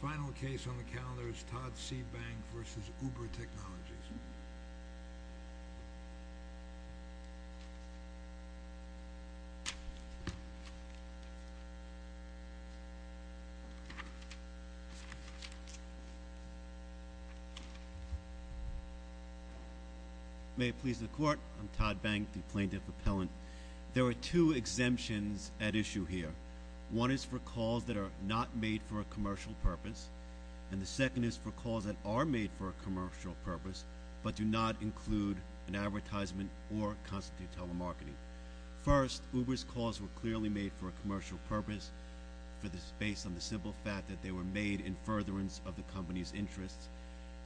Final case on the calendar is Todd C. Bang v. Uber Technologies. May it please the Court, I'm Todd Bang, the plaintiff appellant. There are two exemptions at issue here. One is for calls that are not made for a commercial purpose, and the second is for calls that are made for a commercial purpose but do not include an advertisement or constitute telemarketing. First, Uber's calls were clearly made for a commercial purpose based on the simple fact that they were made in furtherance of the company's interests.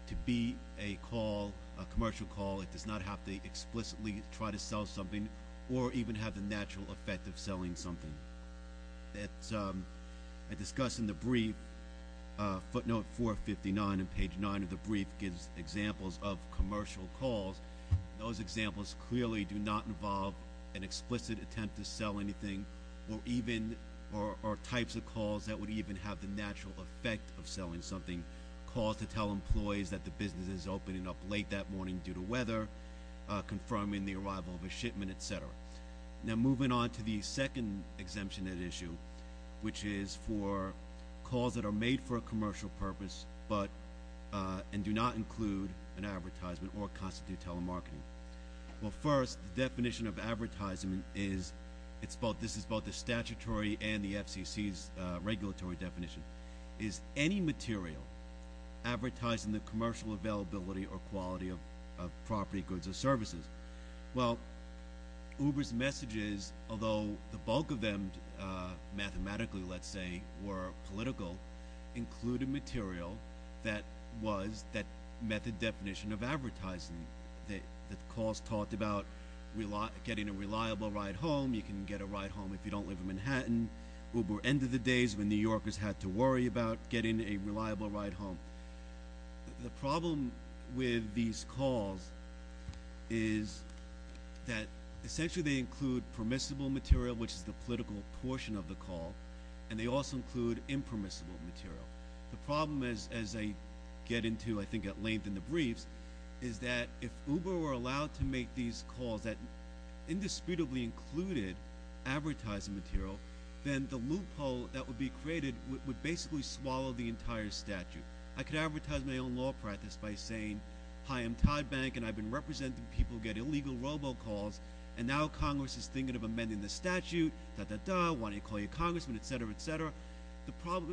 To be a call, a commercial call, it does not have to explicitly try to sell something or even have the natural effect of selling something. As discussed in the brief, footnote 459 on page 9 of the brief gives examples of commercial calls. Those examples clearly do not involve an explicit attempt to sell anything or types of calls that would even have the natural effect of selling something. Calls to tell employees that the business is opening up late that morning due to weather, confirming the arrival of a shipment, et cetera. Now, moving on to the second exemption at issue, which is for calls that are made for a commercial purpose and do not include an advertisement or constitute telemarketing. Well, first, the definition of advertisement is, this is both the statutory and the FCC's regulatory definition, is any material advertising the commercial availability or quality of property, goods, or services. Well, Uber's messages, although the bulk of them mathematically, let's say, were political, included material that was that method definition of advertising. The calls talked about getting a reliable ride home. You can get a ride home if you don't live in Manhattan. Uber ended the days when New Yorkers had to worry about getting a reliable ride home. The problem with these calls is that essentially they include permissible material, which is the political portion of the call, and they also include impermissible material. The problem, as I get into, I think, at length in the briefs, is that if Uber were allowed to make these calls that indisputably included advertising material, then the loophole that would be created would basically swallow the entire statute. I could advertise my own law practice by saying, hi, I'm Todd Bank, and I've been representing people who get illegal robocalls, and now Congress is thinking of amending the statute, dah, dah, dah, why don't I call you Congressman, et cetera, et cetera.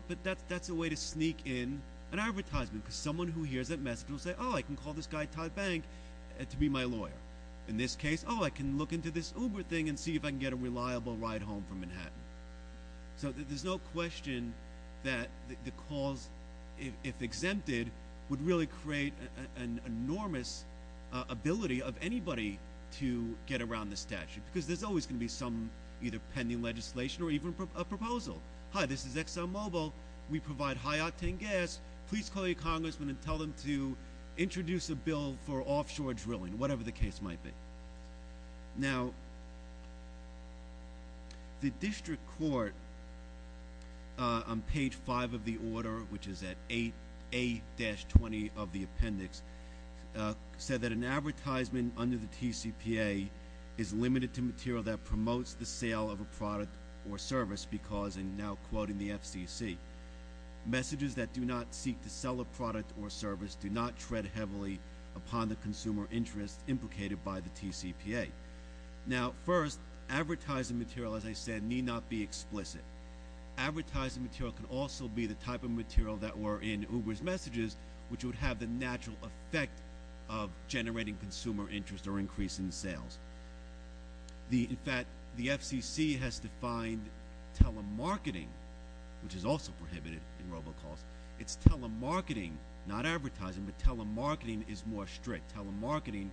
But that's a way to sneak in an advertisement because someone who hears that message will say, oh, I can call this guy Todd Bank to be my lawyer. In this case, oh, I can look into this Uber thing and see if I can get a reliable ride home from Manhattan. So there's no question that the calls, if exempted, would really create an enormous ability of anybody to get around the statute because there's always going to be some either pending legislation or even a proposal. Hi, this is ExxonMobil. We provide high-octane gas. Please call your congressman and tell them to introduce a bill for offshore drilling, whatever the case might be. Now, the district court on page 5 of the order, which is at 8-20 of the appendix, said that an advertisement under the TCPA is limited to material that promotes the sale of a product or service because, and now quoting the FCC, messages that do not seek to sell a product or service do not tread heavily upon the consumer interest implicated by the TCPA. Now, first, advertising material, as I said, need not be explicit. Advertising material can also be the type of material that were in Uber's messages, which would have the natural effect of generating consumer interest or increasing sales. In fact, the FCC has defined telemarketing, which is also prohibited in robocalls. It's telemarketing, not advertising, but telemarketing is more strict. Telemarketing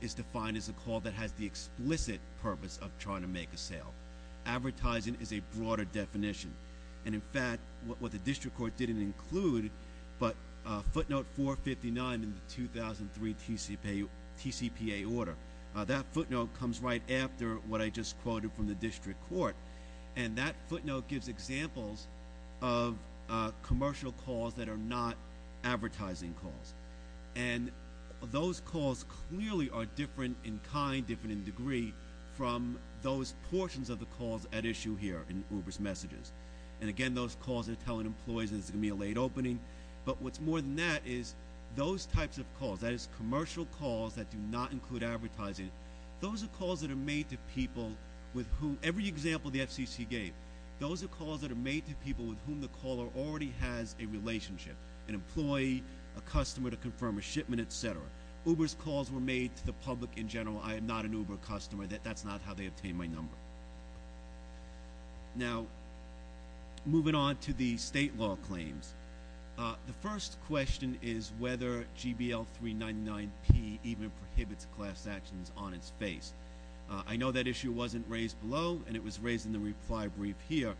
is defined as a call that has the explicit purpose of trying to make a sale. Advertising is a broader definition. And in fact, what the district court didn't include, but footnote 459 in the 2003 TCPA order, that footnote comes right after what I just quoted from the district court. And that footnote gives examples of commercial calls that are not advertising calls. And those calls clearly are different in kind, different in degree from those portions of the calls at issue here in Uber's messages. And again, those calls are telling employees it's going to be a late opening. But what's more than that is those types of calls, that is commercial calls that do not include advertising, those are calls that are made to people with whom, every example the FCC gave, those are calls that are made to people with whom the caller already has a relationship, an employee, a customer to confirm a shipment, et cetera. Uber's calls were made to the public in general. I am not an Uber customer. That's not how they obtained my number. Now, moving on to the state law claims. The first question is whether GBL 399P even prohibits class actions on its face. I know that issue wasn't raised below, and it was raised in the reply brief here.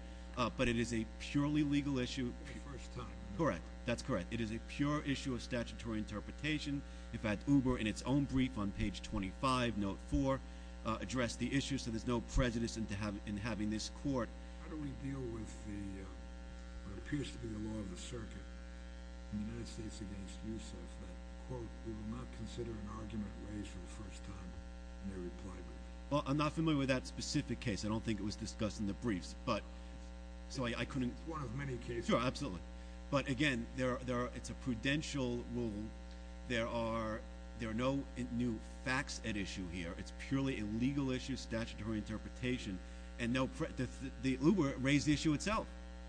But it is a purely legal issue. For the first time. Correct. That's correct. It is a pure issue of statutory interpretation. In fact, Uber, in its own brief on page 25, note 4, addressed the issue. So there's no prejudice in having this court. How do we deal with what appears to be the law of the circuit in the United States against USF that, quote, we will not consider an argument raised for the first time in a reply brief? Well, I'm not familiar with that specific case. I don't think it was discussed in the briefs. But, so I couldn't. It's one of many cases. Sure, absolutely. But, again, it's a prudential rule. There are no new facts at issue here. It's purely a legal issue of statutory interpretation. And Uber raised the issue itself.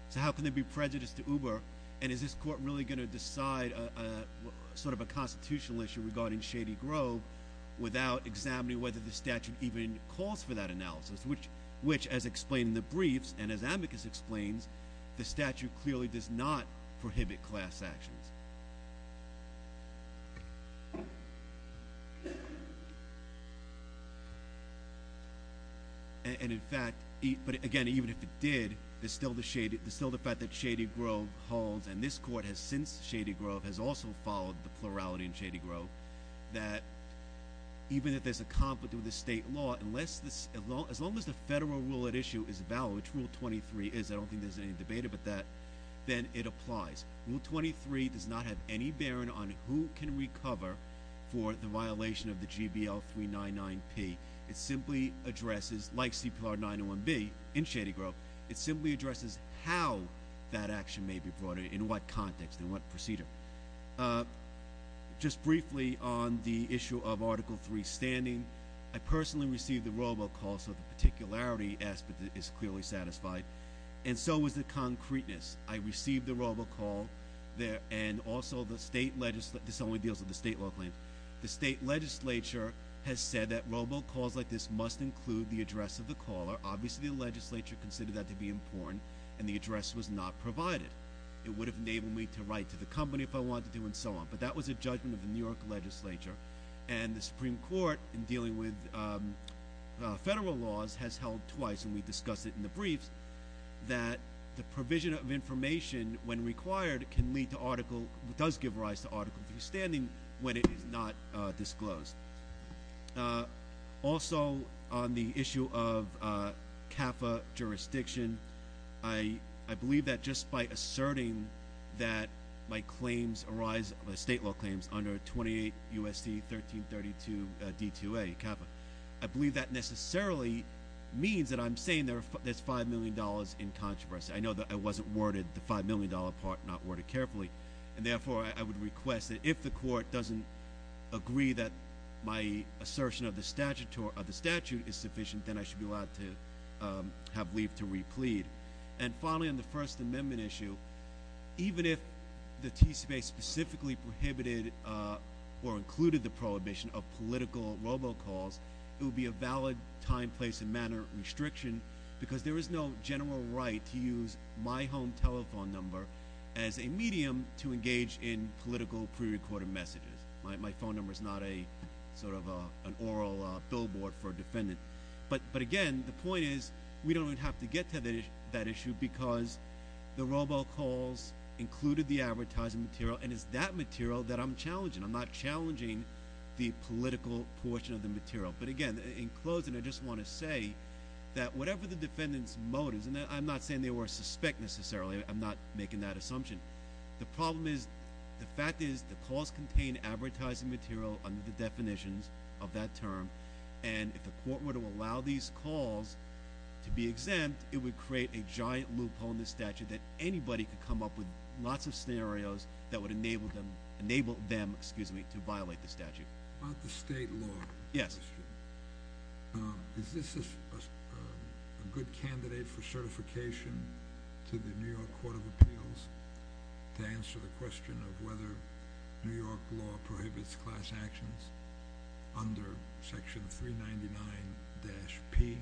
So how can there be prejudice to Uber? And is this court really going to decide sort of a constitutional issue regarding Shady Grove without examining whether the statute even calls for that analysis, which, as explained in the briefs and as Amicus explains, the statute clearly does not prohibit class actions. And, in fact, but, again, even if it did, there's still the fact that Shady Grove holds, and this court has since Shady Grove has also followed the plurality in Shady Grove, that even if there's a conflict with the state law, as long as the federal rule at issue is valid, which Rule 23 is, I don't think there's any debate about that, then it applies. Rule 23 does not have any bearing on who can recover for the violation of the GBL 399P. It simply addresses, like CPLR 901B in Shady Grove, it simply addresses how that action may be brought in, in what context, in what procedure. Just briefly on the issue of Article 3 standing. I personally received the robo call, so the particularity aspect is clearly satisfied. And so is the concreteness. I received the robo call, and also the state, this only deals with the state law claims. The state legislature has said that robo calls like this must include the address of the caller. Obviously, the legislature considered that to be important, and the address was not provided. It would have enabled me to write to the company if I wanted to, and so on. But that was a judgment of the New York legislature. And the Supreme Court, in dealing with federal laws, has held twice, and we discussed it in the briefs, that the provision of information, when required, can lead to article, does give rise to article 3 standing, when it is not disclosed. Also, on the issue of CAFA jurisdiction, I believe that just by asserting that my claims arise, the state law claims under 28 USC 1332 D2A CAFA. I believe that necessarily means that I'm saying there's $5 million in controversy. I know that I wasn't worded the $5 million part, not worded carefully. And therefore, I would request that if the court doesn't agree that my assertion of the statute is sufficient, then I should be allowed to have leave to replead. And finally, on the First Amendment issue, even if the TCPA specifically prohibited or included the prohibition of political robo calls, it would be a valid time, place, and manner restriction because there is no general right to use my home telephone number as a medium to engage in political pre-recorded messages. My phone number is not a sort of an oral billboard for a defendant. But again, the point is, we don't even have to get to that issue because the robo calls included the advertising material. And it's that material that I'm challenging. I'm not challenging the political portion of the material. But again, in closing, I just want to say that whatever the defendant's motives, and I'm not saying they were suspect necessarily, I'm not making that assumption. The problem is, the fact is, the calls contain advertising material under the definitions of that term. And if the court were to allow these calls to be exempt, it would create a giant loophole in the statute that anybody could come up with lots of scenarios that would enable them, excuse me, to violate the statute. About the state law. Yes. Is this a good candidate for certification to the New York Court of Appeals to answer the question of whether New York law prohibits class actions under section 399-P?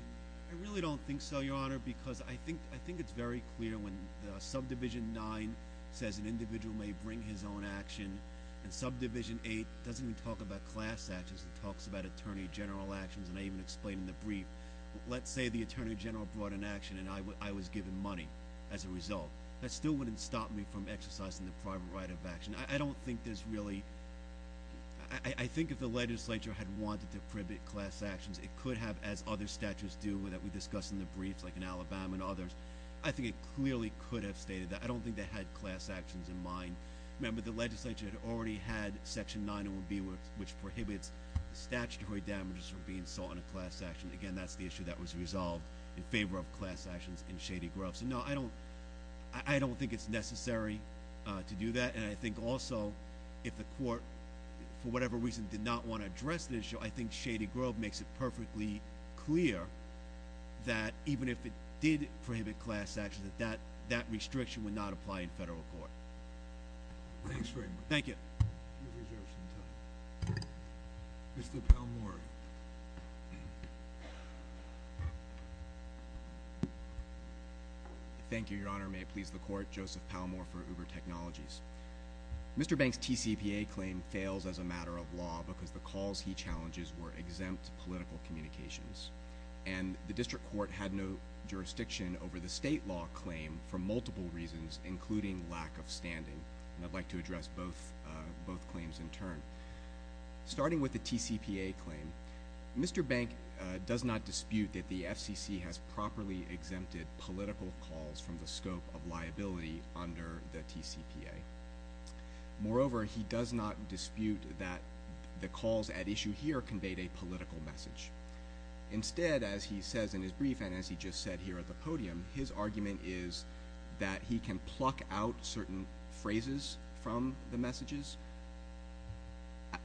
I really don't think so, Your Honor, because I think it's very clear when subdivision 9 says an individual may bring his own action, and subdivision 8 doesn't even talk about class actions. It talks about attorney general actions, and I even explained in the brief. Let's say the attorney general brought an action, and I was given money as a result. That still wouldn't stop me from exercising the private right of action. I don't think there's really – I think if the legislature had wanted to prohibit class actions, it could have, as other statutes do that we discussed in the brief, like in Alabama and others. I think it clearly could have stated that. I don't think they had class actions in mind. Remember, the legislature had already had section 901B, which prohibits statutory damages from being sought in a class action. Again, that's the issue that was resolved in favor of class actions in Shady Grove. So, no, I don't think it's necessary to do that, and I think also if the court for whatever reason did not want to address the issue, I think Shady Grove makes it perfectly clear that even if it did prohibit class actions, that that restriction would not apply in federal court. Thanks very much. Thank you. You have reserved some time. Mr. Palmore. Thank you, Your Honor. May it please the Court, Joseph Palmore for Uber Technologies. Mr. Banks' TCPA claim fails as a matter of law because the calls he challenges were exempt political communications, and the district court had no jurisdiction over the state law claim for multiple reasons, including lack of standing, and I'd like to address both claims in turn. Starting with the TCPA claim, Mr. Bank does not dispute that the FCC has properly exempted political calls from the scope of liability under the TCPA. Moreover, he does not dispute that the calls at issue here conveyed a political message. Instead, as he says in his brief and as he just said here at the podium, his argument is that he can pluck out certain phrases from the messages,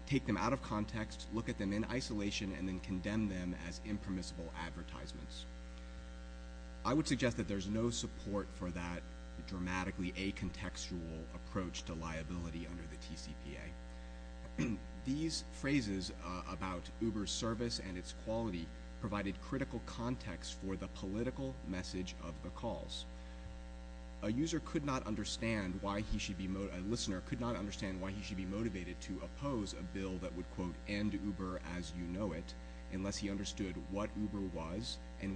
take them out of context, look at them in isolation, and then condemn them as impermissible advertisements. I would suggest that there's no support for that dramatically acontextual approach to liability under the TCPA. These phrases about Uber's service and its quality provided critical context for the political message of the calls. A listener could not understand why he should be motivated to oppose a bill that would, quote, and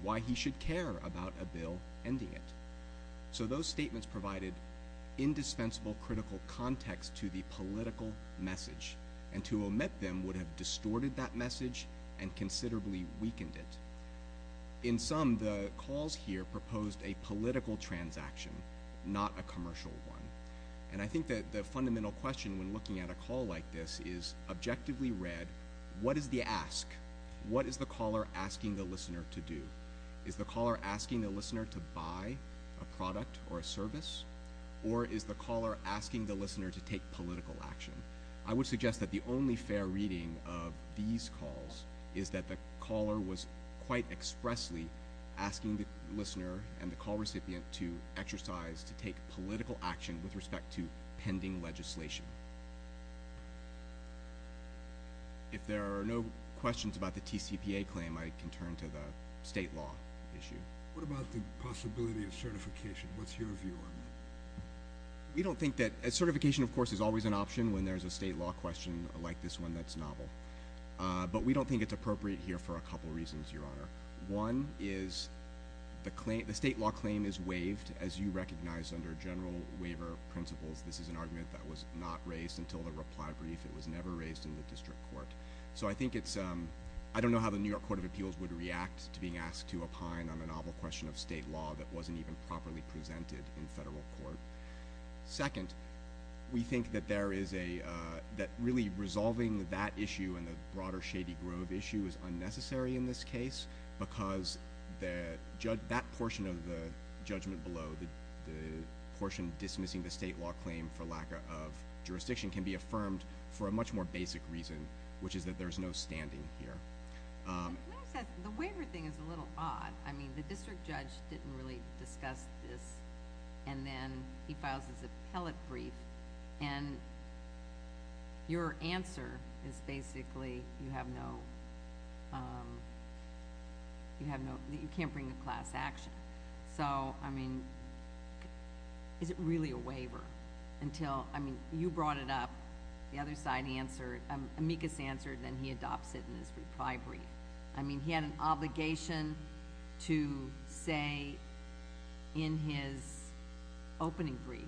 why he should care about a bill ending it. So those statements provided indispensable critical context to the political message, and to omit them would have distorted that message and considerably weakened it. In sum, the calls here proposed a political transaction, not a commercial one, and I think that the fundamental question when looking at a call like this is, what is the ask? What is the caller asking the listener to do? Is the caller asking the listener to buy a product or a service, or is the caller asking the listener to take political action? I would suggest that the only fair reading of these calls is that the caller was quite expressly asking the listener and the call recipient to exercise, to take political action with respect to pending legislation. If there are no questions about the TCPA claim, I can turn to the state law issue. What about the possibility of certification? What's your view on that? We don't think that certification, of course, is always an option when there's a state law question like this one that's novel. But we don't think it's appropriate here for a couple reasons, Your Honor. One is the state law claim is waived, as you recognize under general waiver principles. This is an argument that was not raised until the reply brief. It was never raised in the district court. I don't know how the New York Court of Appeals would react to being asked to opine on a novel question of state law that wasn't even properly presented in federal court. Second, we think that really resolving that issue and the broader Shady Grove issue is unnecessary in this case because that portion of the judgment below, the portion dismissing the state law claim for lack of jurisdiction, can be affirmed for a much more basic reason, which is that there's no standing here. The waiver thing is a little odd. The district judge didn't really discuss this. And then he files his appellate brief. And your answer is basically you have no—you can't bring a class action. So, I mean, is it really a waiver until—I mean, you brought it up, the other side answered, amicus answered, then he adopts it in his reply brief. I mean, he had an obligation to say in his opening brief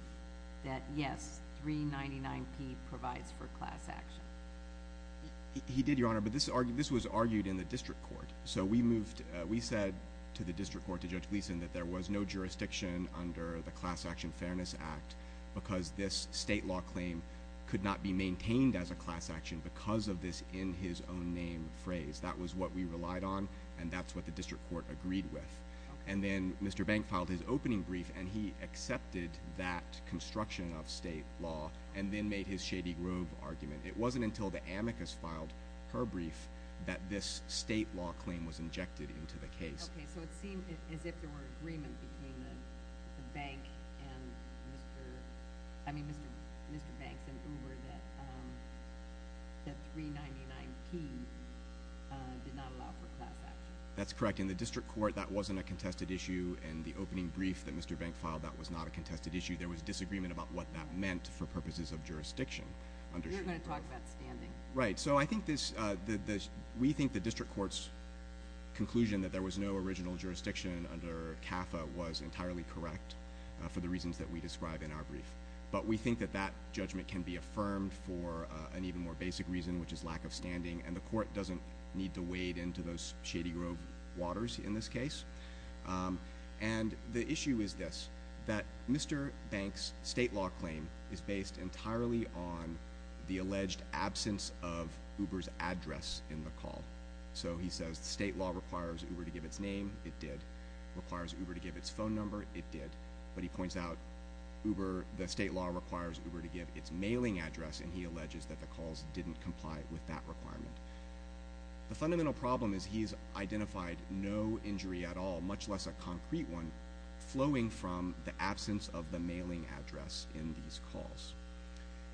that, yes, 399P provides for class action. He did, Your Honor, but this was argued in the district court. So we moved—we said to the district court, to Judge Gleeson, that there was no jurisdiction under the Class Action Fairness Act because this state law claim could not be maintained as a class action because of this in-his-own-name phrase. That was what we relied on, and that's what the district court agreed with. And then Mr. Bank filed his opening brief, and he accepted that construction of state law and then made his Shady Grove argument. It wasn't until the amicus filed her brief that this state law claim was injected into the case. Okay, so it seemed as if there were agreement between the bank and Mr.—I mean, Mr. Banks and Uber that 399P did not allow for class action. That's correct. In the district court, that wasn't a contested issue. In the opening brief that Mr. Bank filed, that was not a contested issue. There was disagreement about what that meant for purposes of jurisdiction. You're going to talk about standing. Right, so I think this—we think the district court's conclusion that there was no original jurisdiction under CAFA was entirely correct for the reasons that we describe in our brief. But we think that that judgment can be affirmed for an even more basic reason, which is lack of standing, and the court doesn't need to wade into those Shady Grove waters in this case. And the issue is this, that Mr. Banks' state law claim is based entirely on the alleged absence of Uber's address in the call. So he says the state law requires Uber to give its name. It did. It requires Uber to give its phone number. It did. But he points out Uber—the state law requires Uber to give its mailing address, and he alleges that the calls didn't comply with that requirement. The fundamental problem is he's identified no injury at all, much less a concrete one, flowing from the absence of the mailing address in these calls.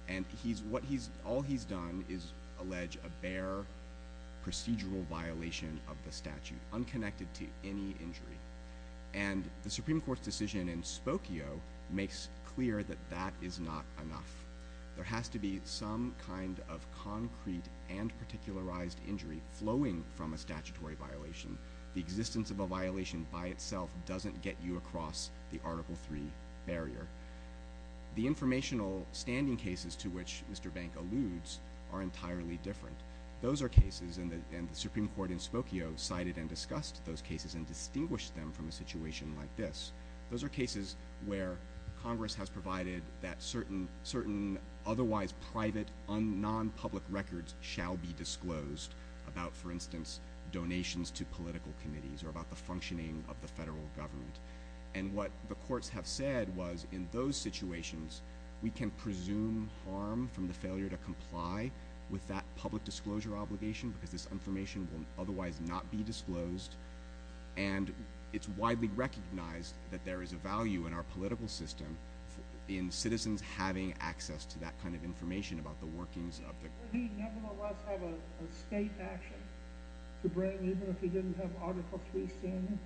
And he's—what he's—all he's done is allege a bare procedural violation of the statute, unconnected to any injury. And the Supreme Court's decision in Spokio makes clear that that is not enough. There has to be some kind of concrete and particularized injury flowing from a statutory violation. The existence of a violation by itself doesn't get you across the Article III barrier. The informational standing cases to which Mr. Bank alludes are entirely different. Those are cases—and the Supreme Court in Spokio cited and discussed those cases and distinguished them from a situation like this. Those are cases where Congress has provided that certain otherwise private, non-public records shall be disclosed about, for instance, donations to political committees or about the functioning of the federal government. And what the courts have said was in those situations, we can presume harm from the failure to comply with that public disclosure obligation because this information will otherwise not be disclosed. And it's widely recognized that there is a value in our political system in citizens having access to that kind of information about the workings of the— Would he nevertheless have a state action to bring even if he didn't have Article III standing?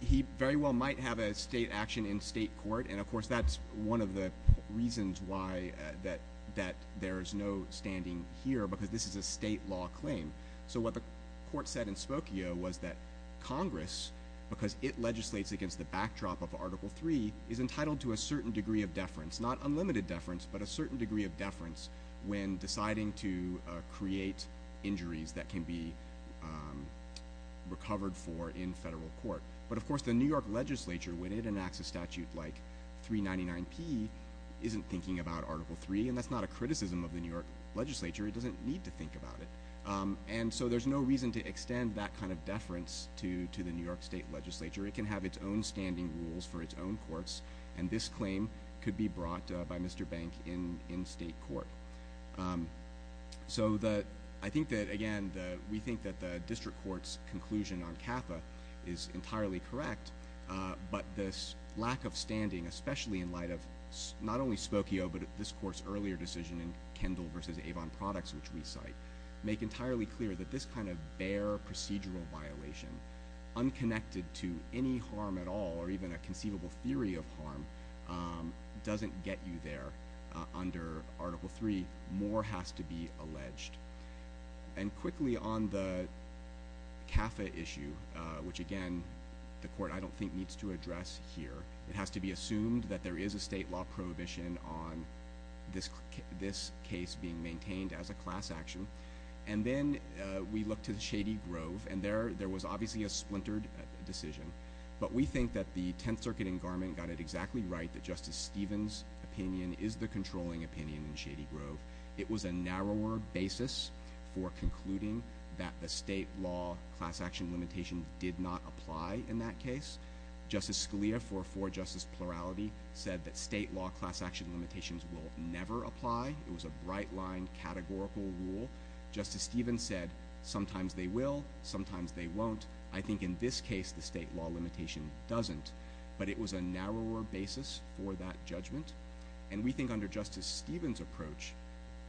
He very well might have a state action in state court, and of course that's one of the reasons why that there is no standing here because this is a state law claim. So what the court said in Spokio was that Congress, because it legislates against the backdrop of Article III, is entitled to a certain degree of deference, not unlimited deference, but a certain degree of deference when deciding to create injuries that can be recovered for in federal court. But of course the New York legislature, when it enacts a statute like 399P, isn't thinking about Article III, and that's not a criticism of the New York legislature. It doesn't need to think about it. And so there's no reason to extend that kind of deference to the New York state legislature. It can have its own standing rules for its own courts, and this claim could be brought by Mr. Bank in state court. So I think that, again, we think that the district court's conclusion on CAFA is entirely correct, but this lack of standing, especially in light of not only Spokio but this court's earlier decision in Kendall v. Avon Products, which we cite, make entirely clear that this kind of bare procedural violation, unconnected to any harm at all or even a conceivable theory of harm, doesn't get you there under Article III. More has to be alleged. And quickly on the CAFA issue, which again the court, I don't think, needs to address here. It has to be assumed that there is a state law prohibition on this case being maintained as a class action. And then we look to Shady Grove, and there was obviously a splintered decision. But we think that the Tenth Circuit in Garment got it exactly right that Justice Stevens' opinion is the controlling opinion in Shady Grove. It was a narrower basis for concluding that the state law class action limitation did not apply in that case. Justice Scalia, for justice plurality, said that state law class action limitations will never apply. It was a bright-lined categorical rule. Justice Stevens said sometimes they will, sometimes they won't. I think in this case the state law limitation doesn't, but it was a narrower basis for that judgment. And we think under Justice Stevens' approach,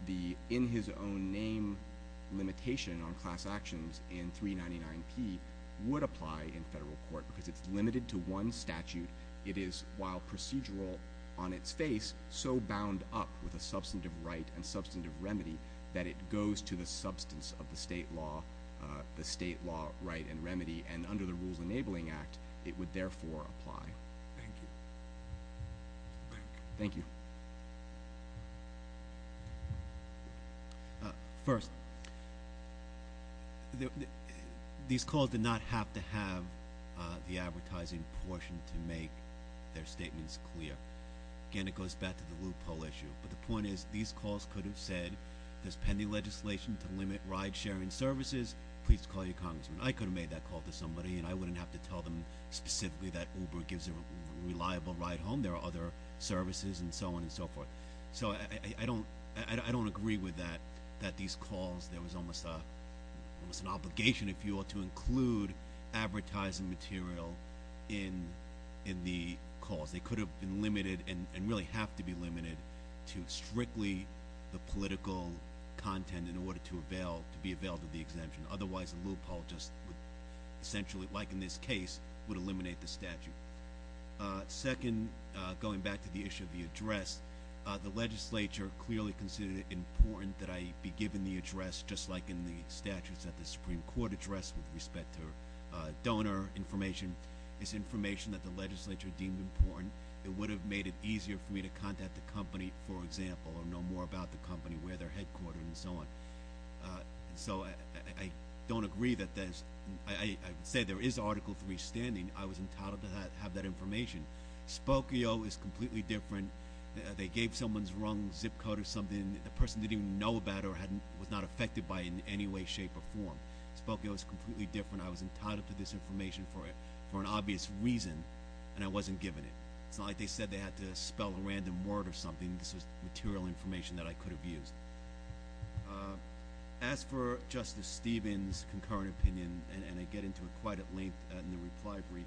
the in-his-own-name limitation on class actions in 399P would apply in federal court because it's limited to one statute. It is, while procedural on its face, so bound up with a substantive right and substantive remedy that it goes to the substance of the state law right and remedy. And under the Rules Enabling Act, it would therefore apply. Thank you. Thank you. First, these calls did not have to have the advertising portion to make their statements clear. Again, it goes back to the loophole issue. But the point is these calls could have said there's pending legislation to limit ride-sharing services. Please call your congressman. I could have made that call to somebody, and I wouldn't have to tell them specifically that Uber gives a reliable ride home. There are other services and so on and so forth. So I don't agree with that, that these calls, there was almost an obligation, if you will, to include advertising material in the calls. They could have been limited and really have to be limited to strictly the political content in order to avail, to be availed of the exemption. Otherwise, the loophole just would essentially, like in this case, would eliminate the statute. Thank you. Second, going back to the issue of the address, the legislature clearly considered it important that I be given the address, just like in the statutes at the Supreme Court address with respect to donor information. It's information that the legislature deemed important. It would have made it easier for me to contact the company, for example, or know more about the company, where they're headquartered and so on. So I don't agree that there's, I would say there is Article III standing. I was entitled to have that information. Spokio is completely different. They gave someone's wrong zip code or something. The person didn't even know about it or was not affected by it in any way, shape, or form. Spokio is completely different. I was entitled to this information for an obvious reason, and I wasn't given it. It's not like they said they had to spell a random word or something. This was material information that I could have used. As for Justice Stevens' concurrent opinion, and I get into it quite at length in the reply brief,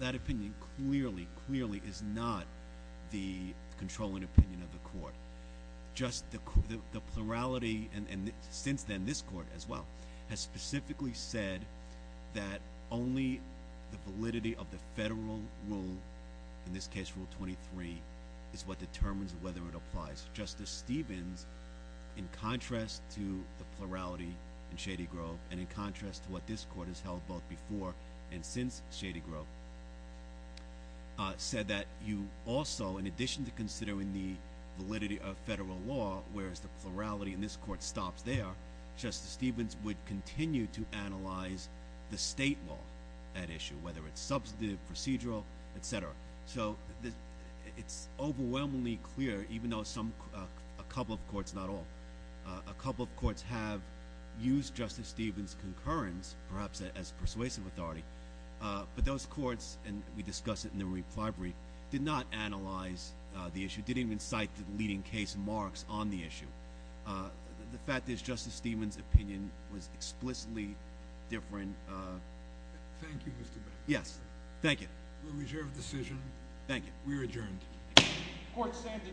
that opinion clearly, clearly is not the controlling opinion of the court. Just the plurality, and since then this court as well, has specifically said that only the validity of the federal rule, in this case Rule 23, is what determines whether it applies. Justice Stevens, in contrast to the plurality in Shady Grove and in contrast to what this court has held both before and since Shady Grove, said that you also, in addition to considering the validity of federal law, whereas the plurality in this court stops there, Justice Stevens would continue to analyze the state law at issue, whether it's substantive, procedural, et cetera. So it's overwhelmingly clear, even though a couple of courts, not all, a couple of courts have used Justice Stevens' concurrence, perhaps as persuasive authority, but those courts, and we discussed it in the reply brief, did not analyze the issue, didn't even cite the leading case marks on the issue. The fact is Justice Stevens' opinion was explicitly different. Thank you, Mr. Beck. Yes, thank you. We reserve the decision. Thank you. We are adjourned. Court stands adjourned.